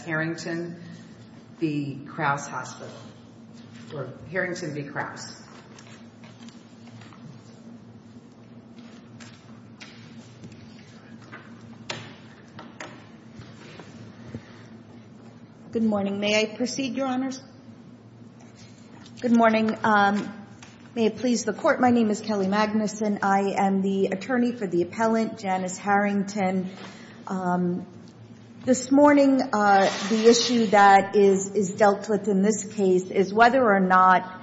or Harrington v. Crouse. MS. MAGNUSON Good morning. May I proceed, Your Honors? Good morning. May it please the Court, my name is Kelly Magnuson. I am the attorney for the appellant, Janice Harrington. This morning, the issue that is dealt with in this case is whether or not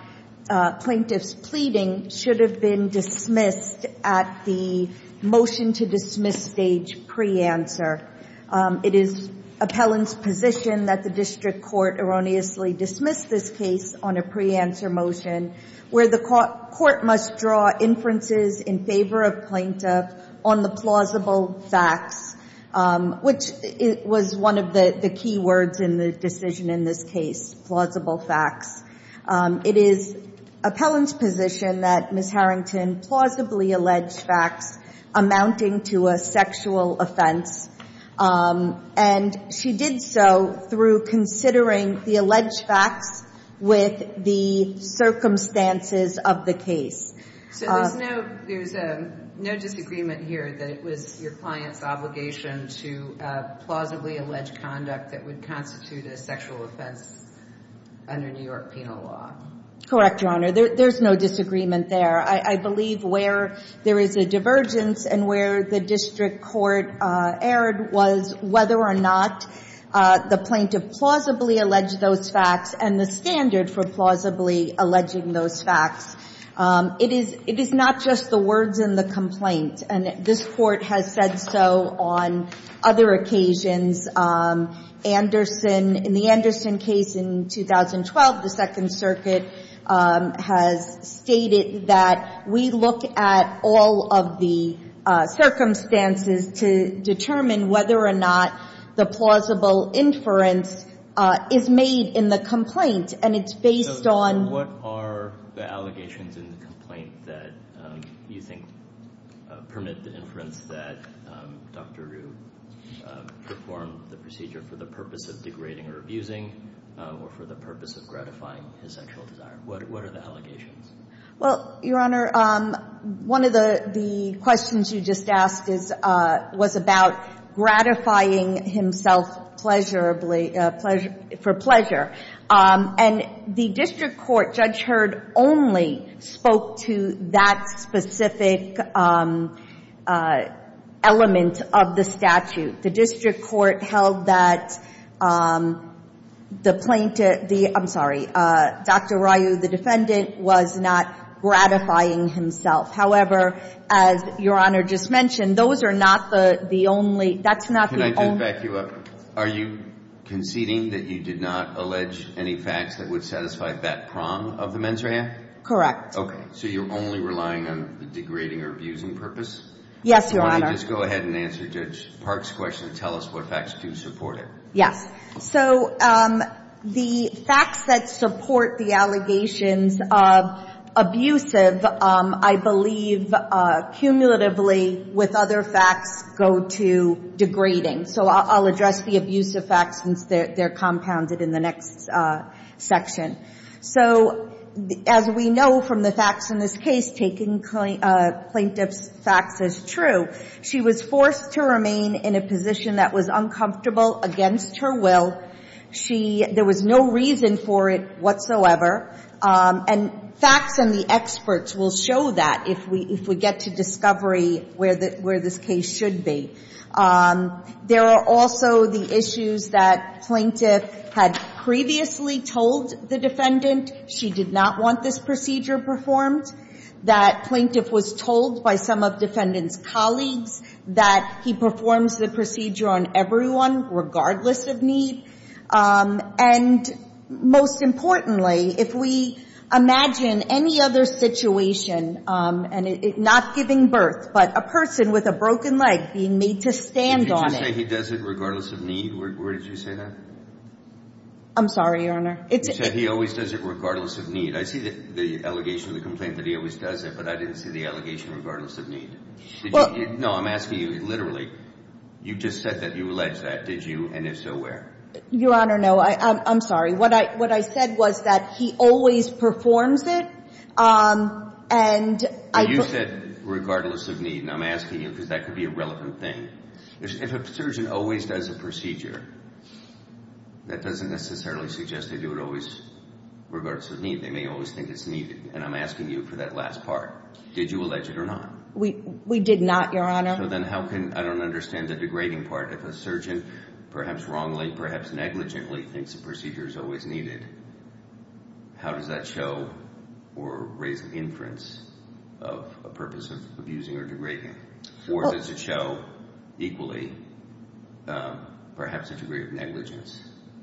plaintiff's pleading should have been dismissed at the motion-to-dismiss stage pre-answer. It is appellant's position that the district court erroneously dismiss this case on a pre-answer motion where the court must draw inferences in favor of plaintiff on the plausible facts, which was one of the key words in the decision in this case, plausible facts. It is appellant's position that Ms. Harrington plausibly alleged facts amounting to a sexual offense under New York penal law. MS. MAGNUSON So there's no disagreement here that it was your client's obligation to plausibly allege conduct that would constitute a sexual offense under New York penal law. MS. HARRINGTON Correct, Your Honor. There's no disagreement there. I believe where there is a divergence and where the district court erred was whether or not the plaintiff plausibly alleged those facts and the standard for plausibly alleging those facts. It is not just the words in the complaint, and this Court has said so on other occasions. In the Anderson case in 2012, the Second Circuit has stated that we look at all of the circumstances to determine whether or not the plausible inference is made in the complaint, and it's based on… MR. GOLDSTEIN So what are the allegations in the complaint that you think permit the inference that Dr. Rue performed the procedure for the purpose of degrading or abusing or for the purpose of gratifying his sexual desire? What are the allegations? MS. HARRINGTON Well, Your Honor, one of the questions you just asked was about gratifying himself for pleasure, and the district court, Judge Hurd only spoke to that specific element of the statute. The district court held that the plaintiff, I'm sorry, Dr. Rue, the defendant, was not gratifying himself. However, as Your Honor just mentioned, those are not the only, that's not the only… MR. GOLDSTEIN Can I just back you up? Are you conceding that you did not allege any facts that would satisfy that prong of the mens rea? MS. HARRINGTON Correct. MR. GOLDSTEIN Okay. So you're only relying on the degrading or abusing purpose? MS. HARRINGTON Yes, Your Honor. MR. GOLDSTEIN Can you just go ahead and answer Judge Park's question and tell us what facts do support it? MS. HARRINGTON Yes. So the facts that support the allegations of abusive, I believe cumulatively with other facts go to degrading. So I'll address the abusive facts since they're compounded in the next section. So as we know from the facts in this case, taking plaintiff's facts as true, she was forced to remain in a position that was uncomfortable against her will. There was no reason for it whatsoever. And facts and the experts will show that if we get to discovery where this case should be. There are also the issues that plaintiff had previously told the defendant she did not want this procedure performed, that plaintiff was told by some of defendant's colleagues that he performs the procedure on everyone regardless of need. And most importantly, if we imagine any other situation, and not giving birth, but a person with a broken leg being made to stand on it. MR. GOLDSTEIN Did you say he does it regardless of need? Where did you say that? MS. HARRINGTON I'm sorry, Your Honor. MR. GOLDSTEIN You said he always does it regardless of need. I see the allegation of the complaint that he always does it, but I didn't see the allegation regardless of need. MS. HARRINGTON Well – MR. GOLDSTEIN No, I'm asking you literally. You just said that you alleged that, did you? And if so, where? MS. HARRINGTON Your Honor, no. I'm sorry. What I said was that he always performs it, and I – MR. GOLDSTEIN You said regardless of need, and I'm asking you because that could be a relevant thing. If a surgeon always does a procedure, that doesn't necessarily suggest they do it always regardless of need. They may always think it's needed, and I'm asking you for that last part. Did you allege it or not? MS. HARRINGTON We did not, Your Honor. MR. GOLDSTEIN So then how can – I don't understand the degrading part. If a surgeon perhaps wrongly, perhaps negligently thinks a procedure is always needed, how does that show or raise the inference of a purpose of abusing or degrading? Or does it show equally perhaps a degree of negligence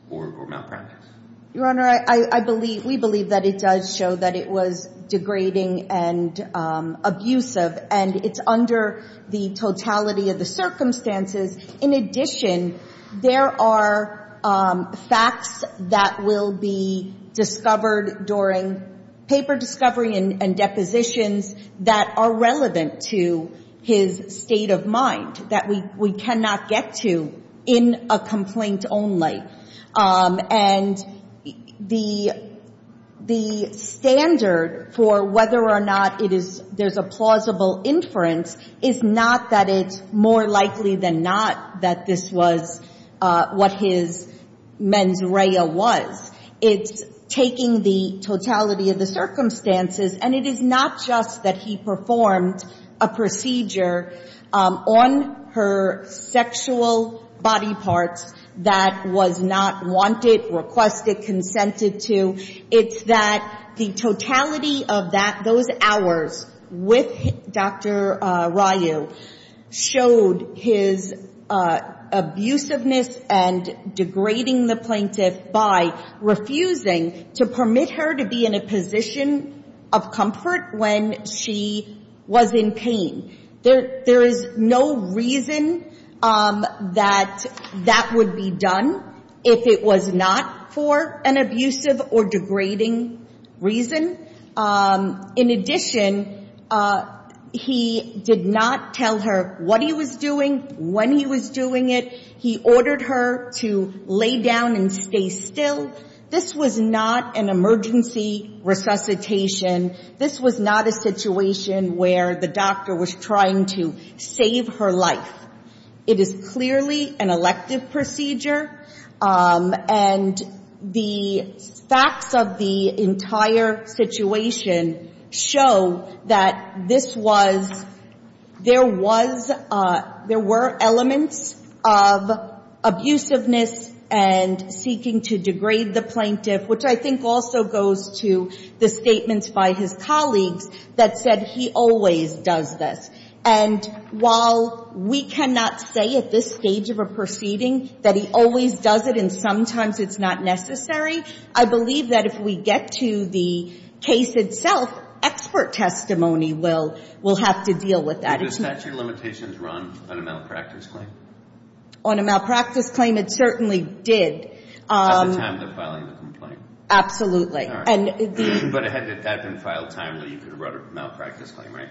or malpractice? MS. HARRINGTON Your Honor, I believe – we believe that it does show that it was degrading and abusive, and it's under the totality of the circumstances. In addition, there are facts that will be discovered during paper discovery and depositions that are relevant to his state of mind that we cannot get to in a complaint only. And the standard for whether or not it is – there's a plausible inference is not that it's more likely than not that this was what his mens rea was. It's taking the performed a procedure on her sexual body parts that was not wanted, requested, consented to. It's that the totality of those hours with Dr. Ryu showed his abusiveness and degrading the plaintiff by refusing to permit her to be in a position where she was in pain. There is no reason that that would be done if it was not for an abusive or degrading reason. In addition, he did not tell her what he was doing, when he was doing it. He ordered her to lay down and stay still. This was not an emergency resuscitation. This was not a situation where the doctor was trying to save her life. It is clearly an elective procedure, and the facts of the entire situation show that this was – there was – there were elements of the statute of limitations. And I think it's important for us to understand that Dr. Ryu did not read the plaintiff, which I think also goes to the statements by his colleagues, that said he always does this. And while we cannot say at this stage of a proceeding that he always does it and sometimes it's not necessary, I believe that if we get to the case itself, expert testimony will have to deal with that. Did the statute of limitations run on a malpractice claim? On a malpractice claim, it certainly did. At the time of the filing of the complaint. Absolutely. All right. But had that been filed timely, you could have brought a malpractice claim, right?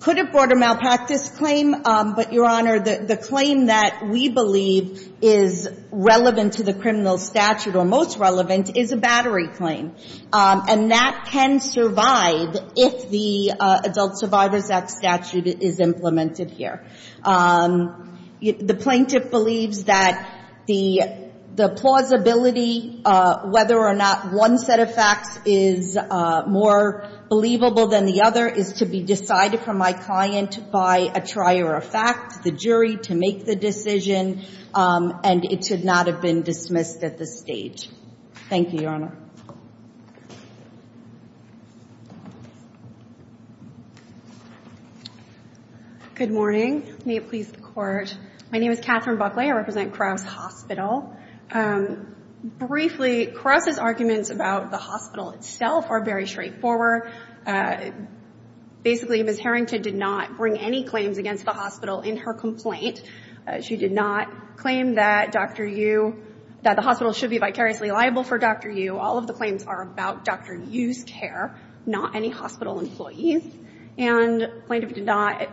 Could have brought a malpractice claim, but, Your Honor, the claim that we believe is relevant to the criminal statute or most relevant is a battery claim. And that can survive if the Adult Survivors Act statute is implemented here. The plaintiff believes that the plausibility whether or not one set of facts is more believable than the other is to be decided from my client by a trier of fact, the jury to make the decision, and it should not have been dismissed at this stage. Thank you, Your Good morning. May it please the Court. My name is Catherine Buckley. I represent Crouse Hospital. Briefly, Crouse's arguments about the hospital itself are very straightforward. Basically, Ms. Harrington did not bring any claims against the complaint. She did not claim that Dr. Yu, that the hospital should be vicariously liable for Dr. Yu. All of the claims are about Dr. Yu's care, not any hospital employee. And the plaintiff did not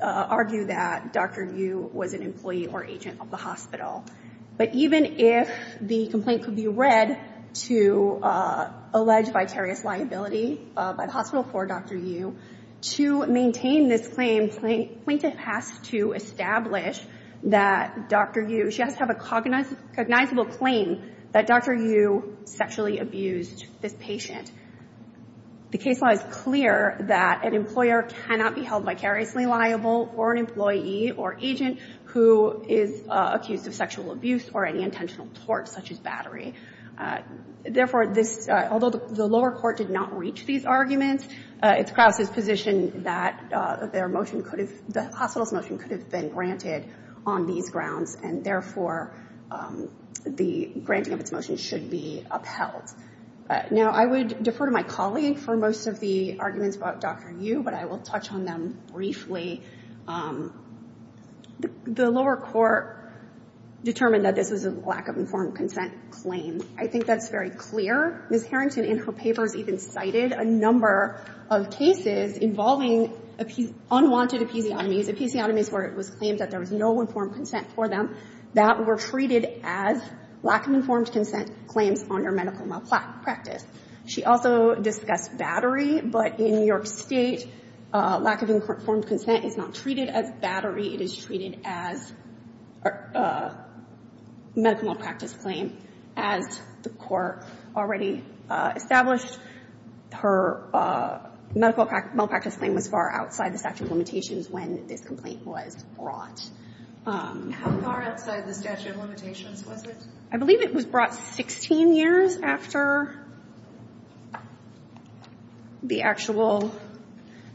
argue that Dr. Yu was an employee or agent of the hospital. But even if the complaint could be read to allege vicarious liability by the hospital for Dr. Yu, to maintain this claim, the plaintiff has to establish that Dr. Yu, she has to have a cognizable claim that Dr. Yu sexually abused this patient. The case law is clear that an employer cannot be held vicariously liable for an employee or agent who is accused of sexual abuse or any intentional tort such as battery. Therefore, this, although the lower court did not reach these arguments, it's Crouse's position that their motion could have, the hospital's motion could have been granted on these grounds. And therefore, the granting of its motion should be upheld. Now, I would defer to my colleague for most of the arguments about Dr. Yu, but I will touch on them briefly. The lower court determined that this was a lack of informed consent claim. I think that's very clear. Ms. Harrington in her papers even cited a number of cases involving unwanted episiotomies, episiotomies where it was claimed that there was no informed consent for them that were treated as lack of informed consent claims under medical malpractice. She also discussed battery. But in New York State, lack of informed consent is not treated as battery. It is treated as medical malpractice claim. As the court already established, her medical malpractice claim was far outside the statute of limitations when this complaint was brought. How far outside the statute of limitations was it? I believe it was brought 16 years after the actual,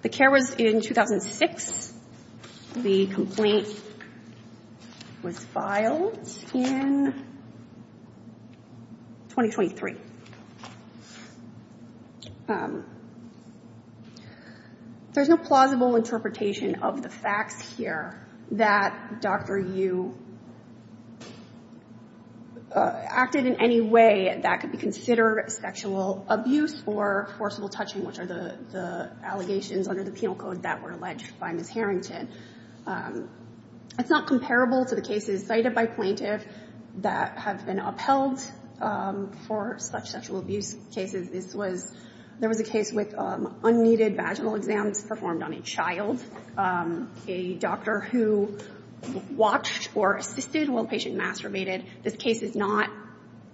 the care was in 2006. The complaint was filed in 2023. There's no plausible interpretation of the facts here that Dr. Yu acted in any way that could be considered sexual abuse or forcible touching, which are the allegations under the penal code that were alleged by Ms. Harrington. It's not comparable to the cases cited by plaintiffs that have been upheld for such sexual abuse cases. This was, there was a case with unneeded vaginal exams performed on a child, a doctor who watched or assisted while the patient masturbated. This case is not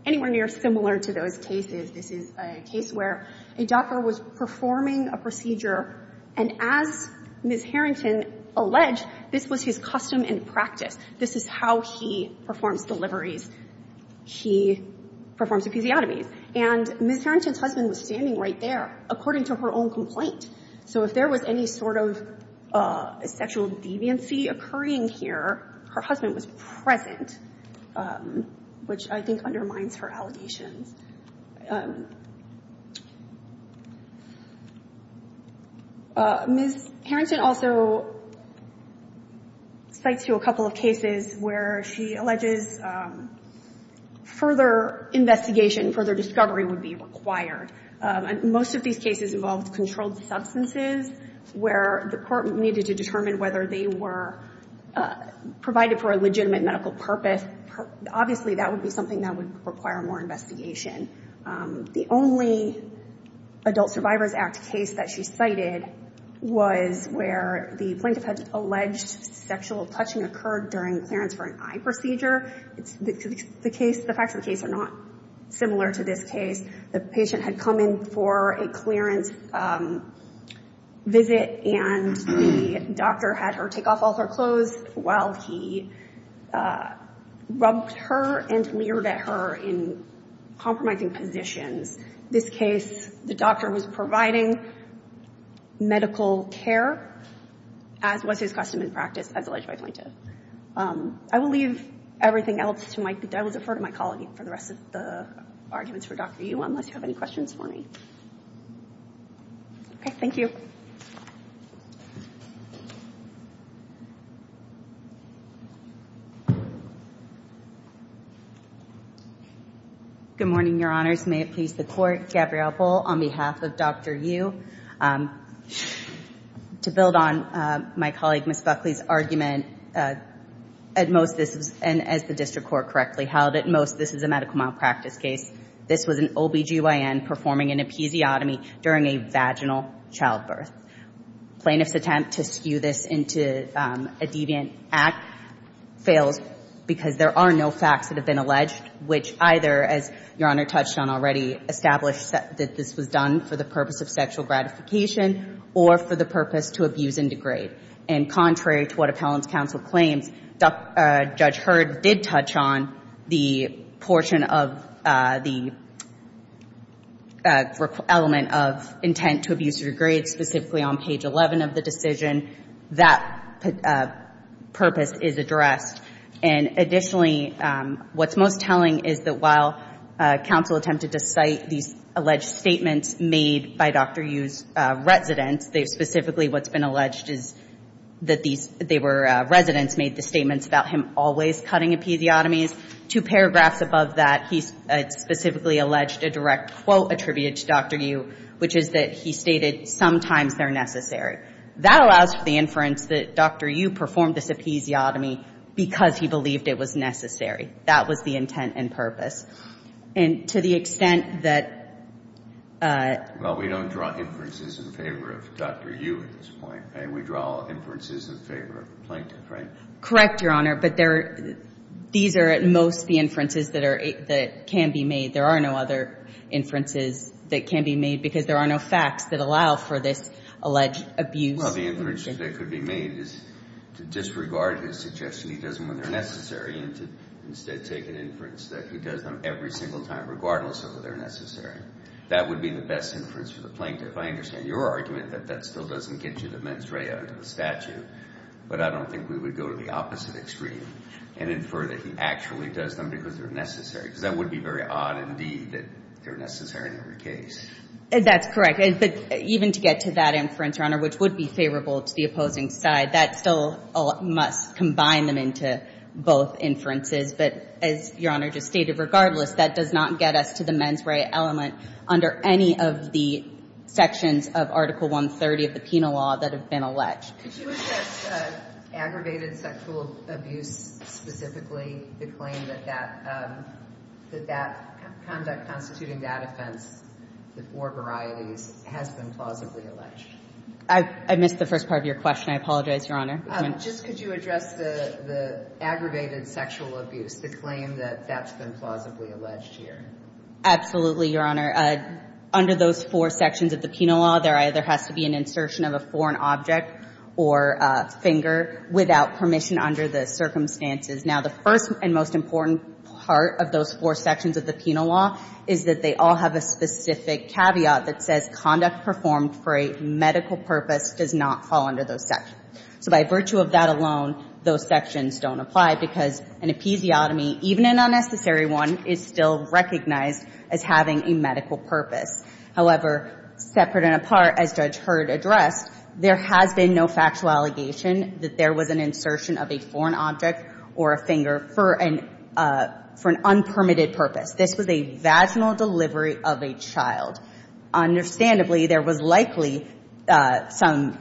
anywhere near similar to those cases. This is a case where a doctor was performing a procedure, and as Ms. Harrington alleged, this was his custom and practice. This is how he performs deliveries. He performs episiotomies. And Ms. Harrington's husband was standing right there according to her own complaint. So if there was any sort of sexual deviancy occurring here, her husband was present, which I think undermines her allegations. Ms. Harrington also cites you a couple of cases where she alleges further investigation, further discovery would be required. Most of these cases involved controlled substances where the court needed to determine whether they were provided for a legitimate medical purpose. Obviously, that would be something that would require more investigation. The only Adult Survivors Act case that she cited was where the plaintiff had alleged sexual touching occurred during clearance for an eye procedure. The facts of the case are not similar to this case. The patient had come in for a clearance visit, and the doctor had her take off all her clothes while he rubbed her and leered at her in compromising positions. This case, the doctor was providing medical care as was his custom and practice as alleged by the plaintiff. I will leave everything else to my colleague for the rest of the arguments for Dr. Yu unless you have any questions for me. Okay, thank you. Good morning, your honors. May it please the court, Gabrielle Bull on behalf of Dr. Yu. To build on my colleague Ms. Buckley's argument, at most this is, and as the district court correctly held, at most this is a medical malpractice case. This was an OBGYN performing an episiotomy during a vaginal childbirth. Plaintiff's attempt to skew this into a deviant act fails because there are no facts that have been alleged, which either, as your honor touched on already, established that this was done for the purpose of sexual gratification or for the purpose to abuse and degrade. And contrary to what appellant's counsel claims, and Judge Hurd did touch on the portion of the element of intent to abuse or degrade specifically on page 11 of the decision, that purpose is addressed. And additionally, what's most telling is that while counsel attempted to cite these alleged statements made by Dr. Yu's residents, specifically what's been alleged is that these residents made the statements about him always cutting episiotomies. Two paragraphs above that, he specifically alleged a direct quote attributed to Dr. Yu, which is that he stated, sometimes they're necessary. That allows for the inference that Dr. Yu performed this episiotomy because he believed it was necessary. That was the intent and purpose. And to the extent that... Well, we don't draw inferences in favor of Dr. Yu at this point. We draw inferences in favor of the plaintiff, right? Correct, your honor, but these are at most the inferences that can be made. There are no other inferences that can be made because there are no facts that allow for this alleged abuse. Well, the inference that could be made is to disregard his suggestion he does them when they're necessary and to instead take an inference that he does them every single time regardless of whether they're necessary. That would be the best inference for the plaintiff. I understand your argument that that still doesn't get you the mens rea out of the statute, but I don't think we would go to the opposite extreme and infer that he actually does them because they're necessary. Because that would be very odd indeed that they're necessary in every case. That's correct. But even to get to that inference, your honor, which would be favorable to the opposing side, that still must combine them into both inferences. But as your honor just stated, regardless, that does not get us to the mens rea element under any of the sections of Article 130 of the penal law that have been alleged. Could you address aggravated sexual abuse specifically? The claim that that conduct constituting that offense, the four varieties, has been plausibly alleged. I missed the first part of your question. I apologize, your honor. Just could you address the aggravated sexual abuse, the claim that that's been plausibly alleged here? Absolutely, your honor. Under those four sections of the penal law, there either has to be an insertion of a foreign object or a finger without permission under the circumstances. Now, the first and most important part of those four sections of the penal law is that they all have a specific caveat that says conduct performed for a medical purpose does not fall under those sections. So by virtue of that alone, those sections don't apply because an episiotomy, even an unnecessary one, is still recognized as having a medical purpose. However, separate and apart, as Judge Heard addressed, there has been no factual allegation that there was an insertion of a foreign object or a finger for an unpermitted purpose. This was a vaginal delivery of a child. Understandably, there was likely some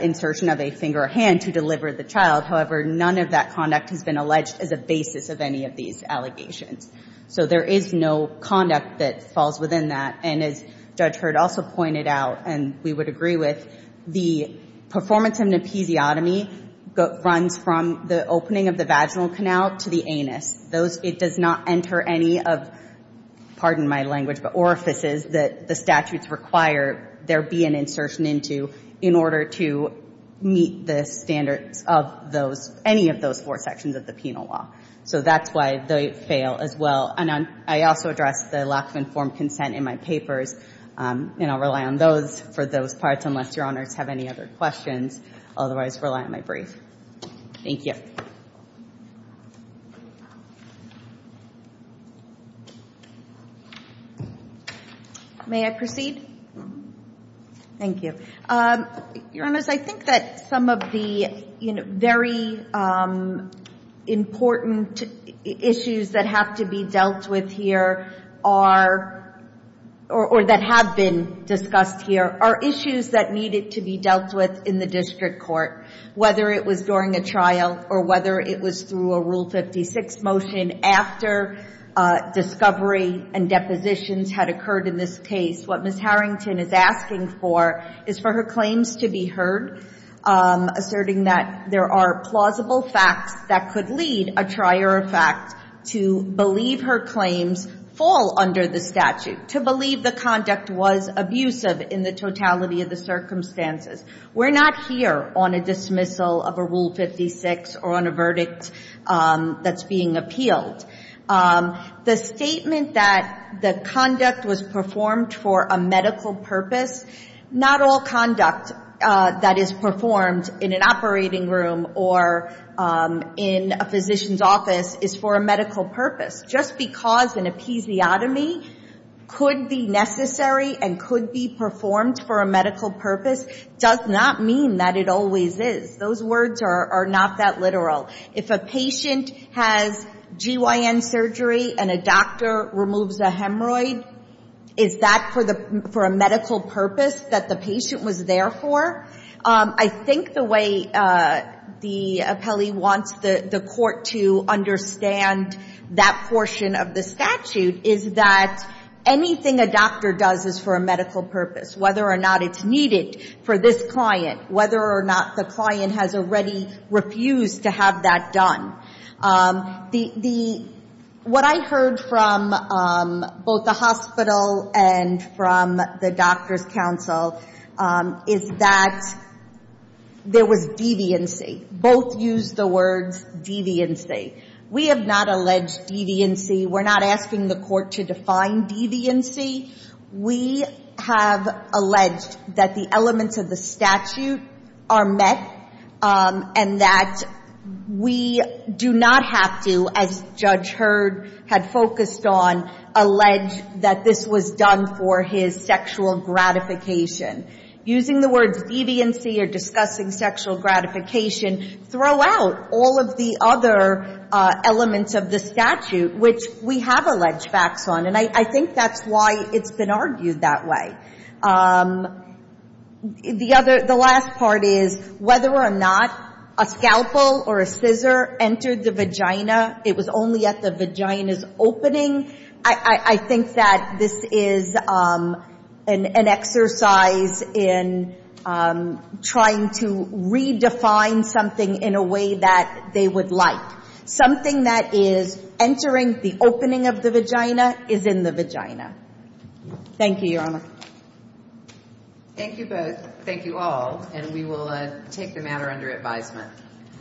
insertion of a finger or hand to deliver the child. However, none of that conduct has been alleged as a basis of any of these allegations. So there is no conduct that falls within that. And as Judge Heard also pointed out, and we would agree with, the performance of an episiotomy runs from the opening of the vaginal canal to the anus. It does not enter any of, pardon my language, but orifices that the statutes require there be an insertion into in order to meet the standards of those, any of those four constitutional law. So that's why they fail as well. And I also address the lack of informed consent in my papers, and I'll rely on those for those parts unless Your Honors have any other questions. Otherwise, rely on my brief. Thank you. May I proceed? Thank you. Your Honors, I think that some of the very important issues that have to be dealt with here are, or that have been discussed here, are issues that needed to be dealt with in the district court, whether it was during a trial or whether it was through a Rule 56 motion after discovery and depositions had occurred in this case. What Ms. Harrington is asking for is for her claims to be heard, asserting that there are plausible facts that could lead a trier effect to believe her claims fall under the statute, to believe the conduct was abusive in the totality of the circumstances. We're not here on a dismissal of a Rule 56 or on a verdict that's being appealed. The statement that the conduct was performed for a medical purpose, not all conduct that is performed in an operating room or in a physician's office is for a medical purpose. Just because an episiotomy could be necessary and could be performed for a medical purpose does not mean that it always is. Those words are not that literal. If a patient has GYN surgery and a doctor removes a patient from the operating room for a medical purpose that the patient was there for, I think the way the appellee wants the court to understand that portion of the statute is that anything a doctor does is for a medical purpose, whether or not it's needed for this client, whether or not the client has already refused to have that done. What I heard from both the hospital and from the doctors counseling council is that there was deviancy. Both used the words deviancy. We have not alleged deviancy. We're not asking the court to define deviancy. We have alleged that the elements of the statute are met and that we do not have to, as Judge Hurd had focused on, allege that this was done for his sexual gratification or sexual gratification. Using the words deviancy or discussing sexual gratification throw out all of the other elements of the statute, which we have alleged facts on. And I think that's why it's been argued that way. The last part is whether or not a scalpel or a scissor entered the vagina. It was only at the vagina's opening. I think that this is an exercise in trying to redefine something in a way that they would like. Something that is entering the opening of the vagina is in the vagina. Thank you, Your Honor. Thank you both. Thank you all. And we will take the matter under advisement.